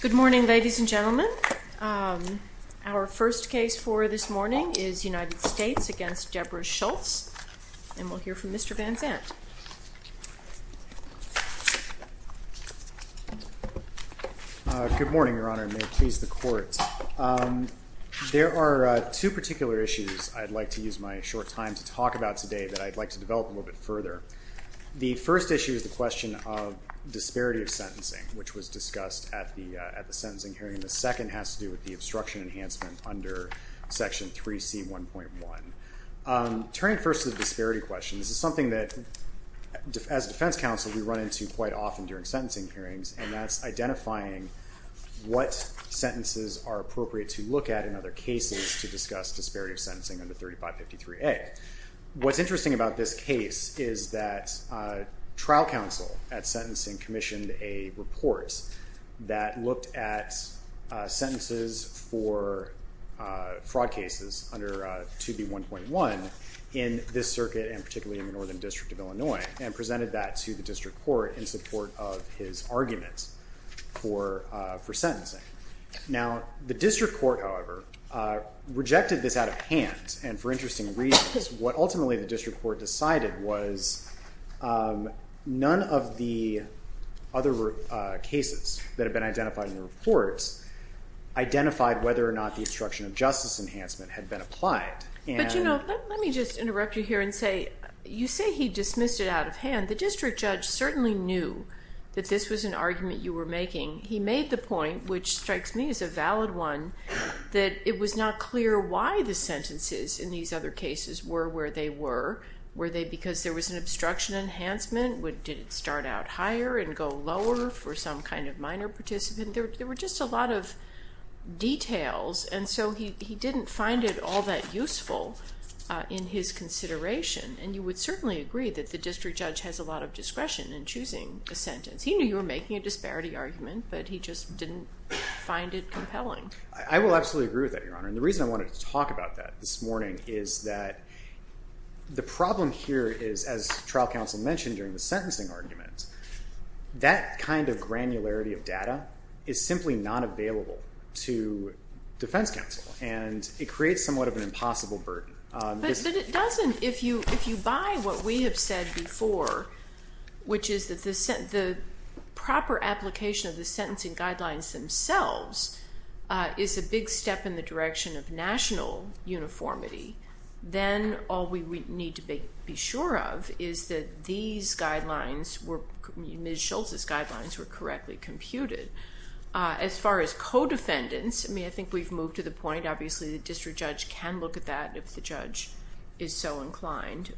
Good morning, ladies and gentlemen. Our first case for this morning is United States v. Debra Schultz, and we'll hear from Mr. Van Zandt. Good morning, Your Honor, and may it please the Court. There are two particular issues I'd like to use my short time to talk about today that I'd like to develop a little bit further. The first issue is the question of disparity of sentencing, which was discussed at the sentencing hearing. The second has to do with the obstruction enhancement under Section 3C1.1. Turning first to the disparity question, this is something that, as a defense counsel, we run into quite often during sentencing hearings, and that's identifying what sentences are appropriate to look at in other cases to discuss disparity of sentencing under 3553A. What's interesting about this case is that trial counsel at sentencing commissioned a report that looked at sentences for fraud cases under 2B1.1 in this circuit and particularly in the Northern District of Illinois and presented that to the district court in support of his argument for sentencing. Now, the district court, however, rejected this out of hand, and for interesting reasons. What ultimately the district court decided was none of the other cases that had been identified in the report identified whether or not the obstruction of justice enhancement had been applied. But, you know, let me just interrupt you here and say, you say he dismissed it out of hand. The district judge certainly knew that this was an argument you were making. He made the point, which strikes me as a valid one, that it was not clear why the sentences in these other cases were where they were. Were they because there was an obstruction enhancement? Did it start out higher and go lower for some kind of minor participant? There were just a lot of details, and so he didn't find it all that useful in his consideration, and you would certainly agree that the district judge has a lot of discretion in choosing a sentence. He knew you were making a disparity argument, but he just didn't find it compelling. I will absolutely agree with that, Your Honor, and the reason I wanted to talk about that this morning is that the problem here is, as trial counsel mentioned during the sentencing argument, that kind of granularity of data is simply not available to defense counsel, and it creates somewhat of an impossible burden. But it doesn't if you buy what we have said before, which is that the proper application of the sentencing guidelines themselves is a big step in the direction of national uniformity. Then all we need to be sure of is that these guidelines, Ms. Schultz's guidelines, were correctly computed. As far as co-defendants, I mean, I think we've moved to the point, obviously, the district judge can look at that if the judge is so inclined.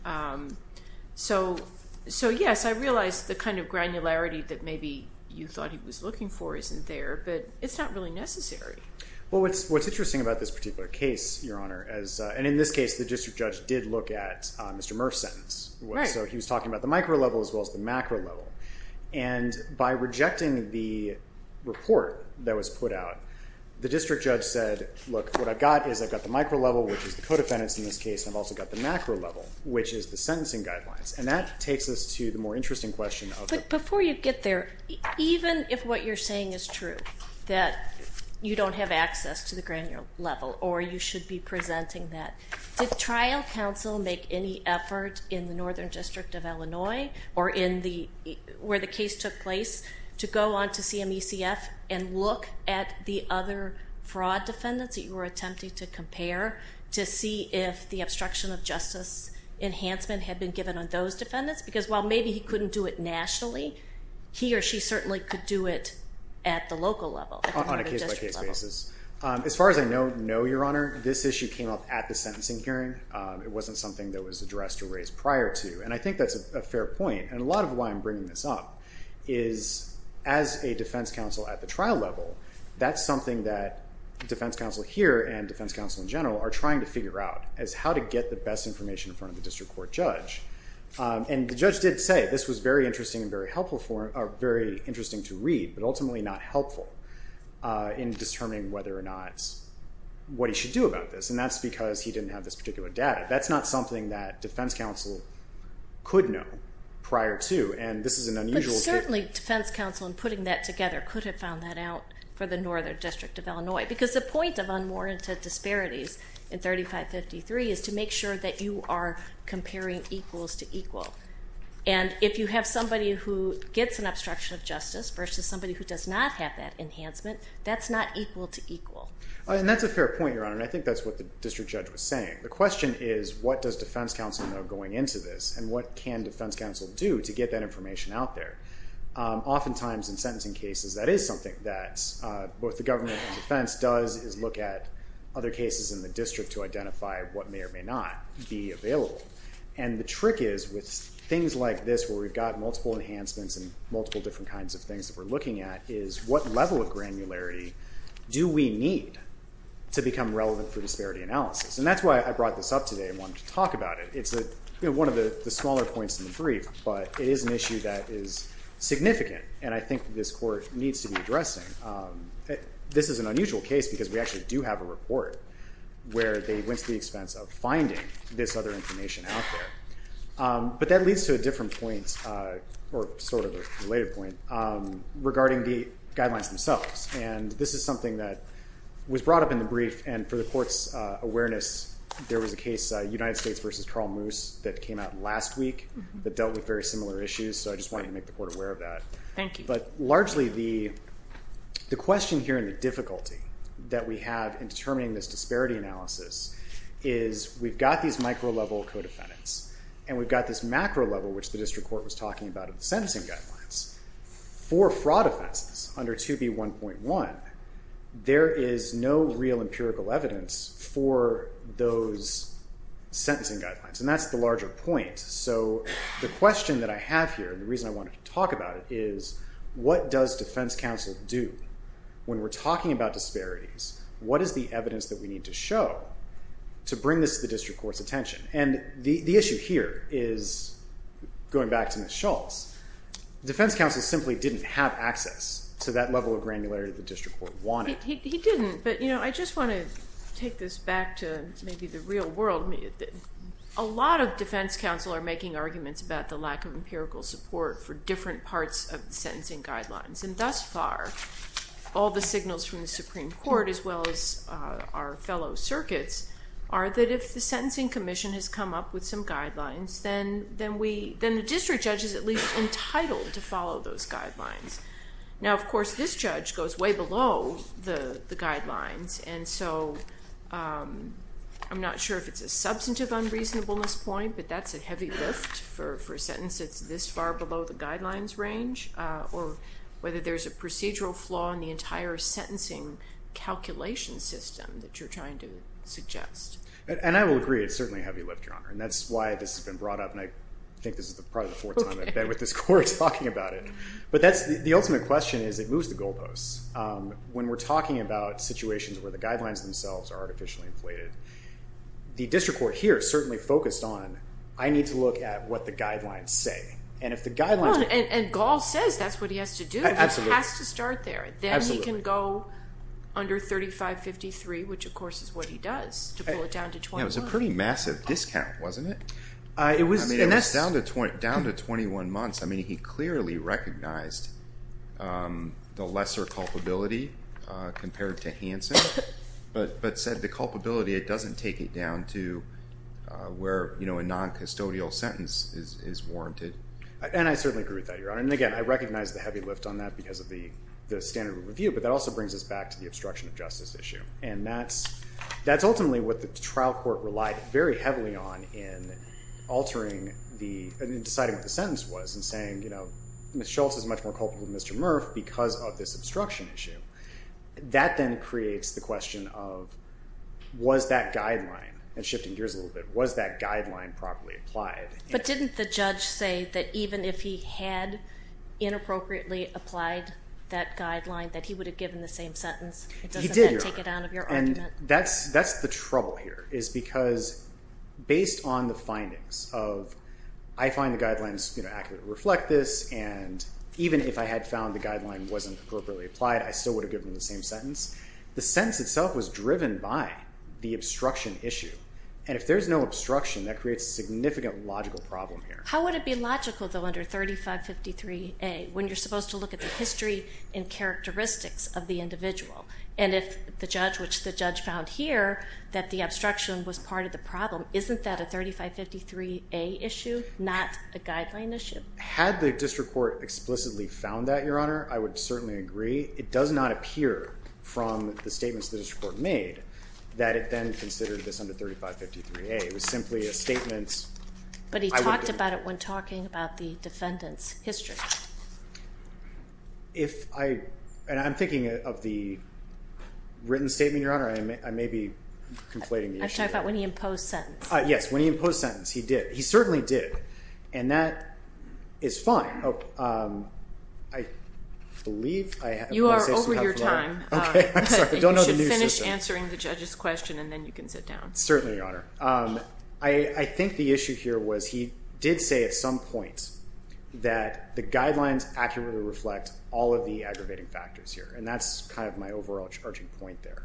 So, yes, I realize the kind of granularity that maybe you thought he was looking for isn't there, but it's not really necessary. Well, what's interesting about this particular case, Your Honor, and in this case, the district judge did look at Mr. Murph's sentence. So he was talking about the micro level as well as the macro level, and by rejecting the report that was put out, the district judge said, look, what I've got is I've got the micro level, which is the co-defendants in this case, and I've also got the macro level, which is the sentencing guidelines. And that takes us to the more interesting question. But before you get there, even if what you're saying is true, that you don't have access to the granular level, or you should be presenting that, did trial counsel make any effort in the Northern District of Illinois, or where the case took place, to go on to CMECF and look at the other fraud defendants that you were attempting to compare to see if the obstruction of justice enhancement had been given on those defendants? Because while maybe he couldn't do it nationally, he or she certainly could do it at the local level. On a case-by-case basis. As far as I know, no, Your Honor. This issue came up at the sentencing hearing. It wasn't something that was addressed or raised prior to. And I think that's a fair point. And a lot of why I'm bringing this up is, as a defense counsel at the trial level, that's something that defense counsel here and defense counsel in general are trying to figure out, is how to get the best information in front of the district court judge. And the judge did say this was very interesting and very helpful for him, or very interesting to read, but ultimately not helpful in determining whether or not, what he should do about this. And that's because he didn't have this particular data. That's not something that defense counsel could know prior to, and this is an unusual case. But certainly defense counsel in putting that together could have found that out for the Northern District of Illinois. Because the point of unwarranted disparities in 3553 is to make sure that you are comparing equals to equal. And if you have somebody who gets an obstruction of justice versus somebody who does not have that enhancement, that's not equal to equal. And that's a fair point, Your Honor, and I think that's what the district judge was saying. The question is, what does defense counsel know going into this, and what can defense counsel do to get that information out there? Oftentimes in sentencing cases, that is something that both the government and defense does, is look at other cases in the district to identify what may or may not be available. And the trick is, with things like this where we've got multiple enhancements and multiple different kinds of things that we're looking at, is what level of granularity do we need to become relevant for disparity analysis? And that's why I brought this up today and wanted to talk about it. It's one of the smaller points in the brief, but it is an issue that is significant, and I think this Court needs to be addressing. This is an unusual case because we actually do have a report where they went to the expense of finding this other information out there. But that leads to a different point, or sort of a related point, regarding the guidelines themselves. And this is something that was brought up in the brief, and for the Court's awareness, there was a case, United States v. Carl Moose, that came out last week that dealt with very similar issues, so I just wanted to make the Court aware of that. Thank you. But largely the question here and the difficulty that we have in determining this disparity analysis is we've got these micro-level co-defendants, and we've got this macro-level, which the district court was talking about in the sentencing guidelines, for fraud offenses under 2B.1.1, there is no real empirical evidence for those sentencing guidelines, and that's the larger point. So the question that I have here and the reason I wanted to talk about it is what does defense counsel do when we're talking about disparities? What is the evidence that we need to show to bring this to the district court's attention? And the issue here is, going back to Ms. Schultz, defense counsel simply didn't have access to that level of granularity the district court wanted. He didn't, but I just want to take this back to maybe the real world. A lot of defense counsel are making arguments about the lack of empirical support for different parts of the sentencing guidelines, and thus far all the signals from the Supreme Court as well as our fellow circuits are that if the sentencing commission has come up with some guidelines, then the district judge is at least entitled to follow those guidelines. Now, of course, this judge goes way below the guidelines, and so I'm not sure if it's a substantive unreasonableness point, but that's a heavy lift for a sentence that's this far below the guidelines range, or whether there's a procedural flaw in the entire sentencing calculation system that you're trying to suggest. And I will agree it's certainly a heavy lift, Your Honor, and that's why this has been brought up, and I think this is probably the fourth time I've been with this court talking about it, but the ultimate question is it moves the goalposts. When we're talking about situations where the guidelines themselves are artificially inflated, the district court here is certainly focused on I need to look at what the guidelines say, and if the guidelines are— And Gall says that's what he has to do. Absolutely. It has to start there. Absolutely. And he can go under 3553, which, of course, is what he does, to pull it down to 21. Yeah, it was a pretty massive discount, wasn't it? It was. I mean, it was down to 21 months. I mean, he clearly recognized the lesser culpability compared to Hanson, but said the culpability, it doesn't take it down to where a non-custodial sentence is warranted. And I certainly agree with that, Your Honor. And, again, I recognize the heavy lift on that because of the standard of review, but that also brings us back to the obstruction of justice issue, and that's ultimately what the trial court relied very heavily on in altering the— in deciding what the sentence was and saying, you know, Ms. Schultz is much more culpable than Mr. Murph because of this obstruction issue. That then creates the question of was that guideline, and shifting gears a little bit, was that guideline properly applied? But didn't the judge say that even if he had inappropriately applied that guideline, that he would have given the same sentence? He did, Your Honor. It doesn't take it down of your argument. And that's the trouble here, is because based on the findings of, I find the guidelines accurately reflect this, and even if I had found the guideline wasn't appropriately applied, I still would have given the same sentence. The sentence itself was driven by the obstruction issue, and if there's no obstruction, that creates a significant logical problem here. How would it be logical, though, under 3553A, when you're supposed to look at the history and characteristics of the individual? And if the judge, which the judge found here, that the obstruction was part of the problem, isn't that a 3553A issue, not a guideline issue? Had the district court explicitly found that, Your Honor, I would certainly agree. It does not appear from the statements the district court made that it then considered this under 3553A. It was simply a statement. But he talked about it when talking about the defendant's history. And I'm thinking of the written statement, Your Honor. I may be conflating the issue. I'm talking about when he imposed sentence. Yes, when he imposed sentence, he did. He certainly did. And that is fine. I believe I have more to say. You are over your time. Okay, I'm sorry. You should finish answering the judge's question and then you can sit down. Certainly, Your Honor. I think the issue here was he did say at some point that the guidelines accurately reflect all of the aggravating factors here. And that's kind of my overall charging point there,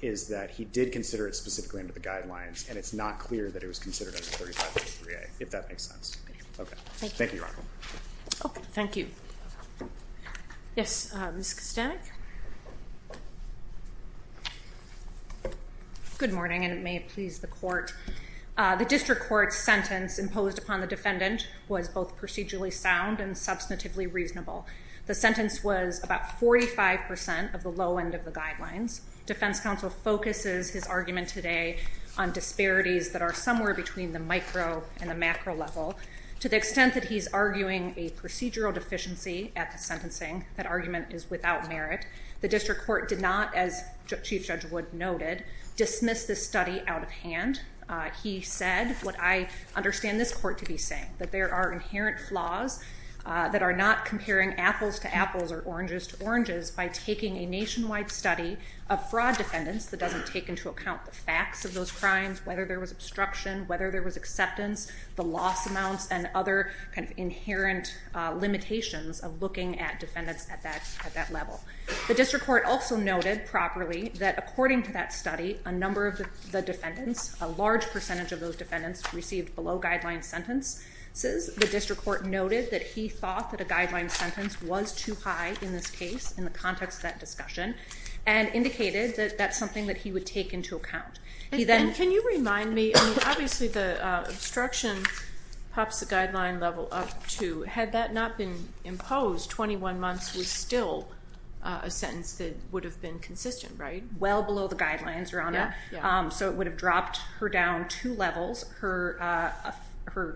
is that he did consider it specifically under the guidelines, and it's not clear that it was considered under 3553A, if that makes sense. Okay. Thank you. Thank you, Your Honor. Thank you. Yes, Ms. Kostanek. Good morning, and it may please the Court. The district court's sentence imposed upon the defendant was both procedurally sound and substantively reasonable. The sentence was about 45% of the low end of the guidelines. Defense counsel focuses his argument today on disparities that are somewhere between the micro and the macro level. To the extent that he's arguing a procedural deficiency at the sentencing, that argument is without merit. The district court did not, as Chief Judge Wood noted, dismiss this study out of hand. He said what I understand this court to be saying, that there are inherent flaws that are not comparing apples to apples or oranges to oranges by taking a nationwide study of fraud defendants that doesn't take into account the facts of those crimes, whether there was obstruction, whether there was acceptance, the loss amounts, and other kind of inherent limitations of looking at defendants at that level. The district court also noted properly that according to that study, a number of the defendants, a large percentage of those defendants, received below guideline sentences. The district court noted that he thought that a guideline sentence was too high in this case in the context of that discussion and indicated that that's something that he would take into account. Can you remind me, obviously the obstruction pops the guideline level up to, had that not been imposed, 21 months was still a sentence that would have been consistent, right? Well below the guidelines, Your Honor. So it would have dropped her down two levels. Her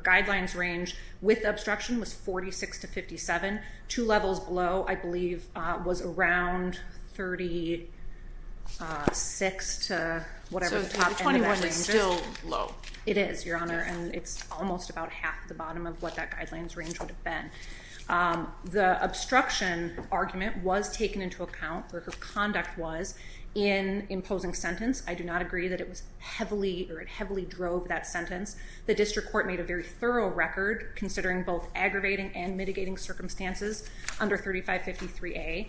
guidelines range with obstruction was 46 to 57. Two levels below, I believe, was around 36 to whatever the top end of that range is. So 21 is still low. It is, Your Honor, and it's almost about half the bottom of what that guidelines range would have been. The obstruction argument was taken into account, or her conduct was, in imposing sentence. I do not agree that it heavily drove that sentence. The district court made a very thorough record, considering both aggravating and mitigating circumstances under 3553A.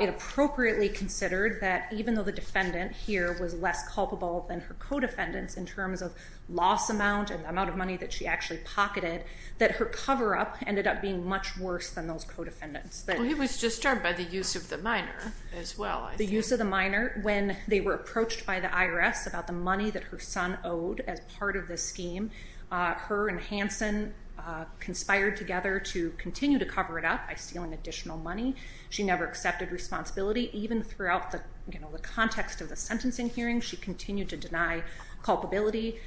It appropriately considered that even though the defendant here was less culpable than her co-defendants in terms of loss amount and the amount of money that she actually pocketed, that her cover-up ended up being much worse than those co-defendants. He was disturbed by the use of the minor as well, I think. The use of the minor when they were approached by the IRS about the money that her son owed as part of this scheme. Her and Hanson conspired together to continue to cover it up by stealing additional money. She never accepted responsibility. Even throughout the context of the sentencing hearing, she continued to deny culpability.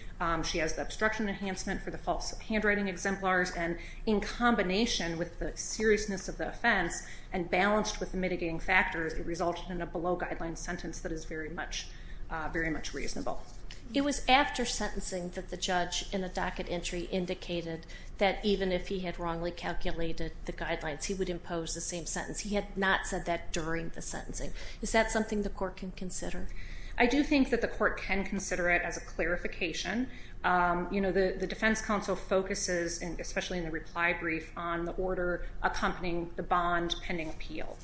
She has the obstruction enhancement for the false handwriting exemplars, and in combination with the seriousness of the offense and balanced with the mitigating factors, it resulted in a below-guideline sentence that is very much reasonable. It was after sentencing that the judge in the docket entry indicated that even if he had wrongly calculated the guidelines, he would impose the same sentence. He had not said that during the sentencing. Is that something the court can consider? I do think that the court can consider it as a clarification. The defense counsel focuses, especially in the reply brief, on the order accompanying the bond pending appeal,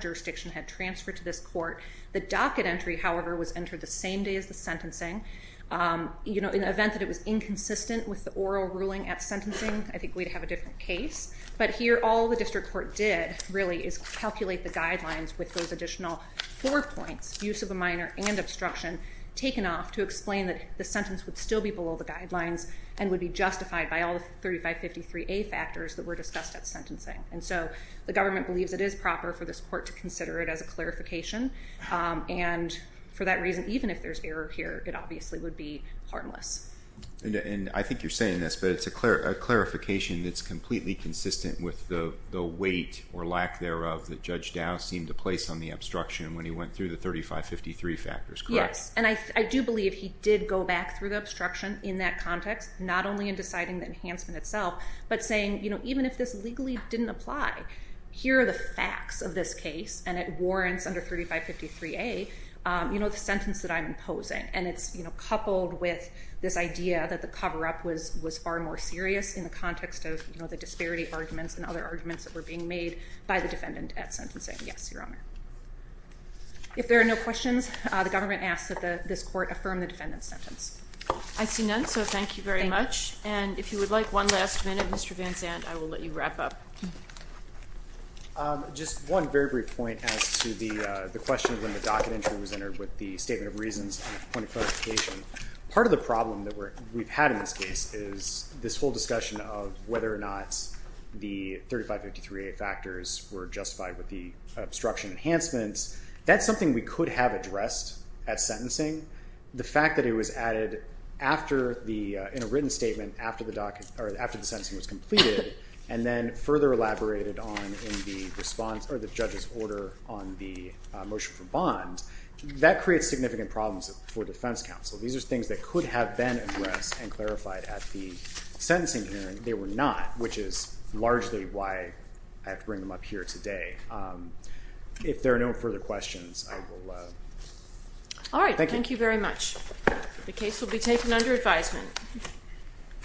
jurisdiction had transferred to this court. The docket entry, however, was entered the same day as the sentencing. In the event that it was inconsistent with the oral ruling at sentencing, I think we'd have a different case. But here, all the district court did, really, is calculate the guidelines with those additional four points, use of a minor and obstruction, taken off to explain that the sentence would still be below the guidelines and would be justified by all the 3553A factors that were discussed at sentencing. And so the government believes it is proper for this court to consider it as a clarification. And for that reason, even if there's error here, it obviously would be harmless. And I think you're saying this, but it's a clarification that's completely consistent with the weight or lack thereof that Judge Dow seemed to place on the obstruction when he went through the 3553 factors, correct? Yes, and I do believe he did go back through the obstruction in that context, not only in deciding the enhancement itself, but saying, you know, even if this legally didn't apply, here are the facts of this case, and it warrants under 3553A, you know, the sentence that I'm imposing. And it's coupled with this idea that the cover-up was far more serious in the context of the disparity arguments and other arguments that were being made by the defendant at sentencing. Yes, Your Honor. If there are no questions, the government asks that this court affirm the defendant's sentence. I see none, so thank you very much. And if you would like one last minute, Mr. Van Zandt, I will let you wrap up. Just one very brief point as to the question when the docket entry was entered with the statement of reasons and the point of clarification. Part of the problem that we've had in this case is this whole discussion of whether or not the 3553A factors were justified with the obstruction enhancements. That's something we could have addressed at sentencing. The fact that it was added in a written statement after the sentencing was completed and then further elaborated on in the response or the judge's order on the motion for bond, that creates significant problems for defense counsel. These are things that could have been addressed and clarified at the sentencing hearing. They were not, which is largely why I have to bring them up here today. If there are no further questions, I will... All right, thank you very much. The case will be taken under advisement.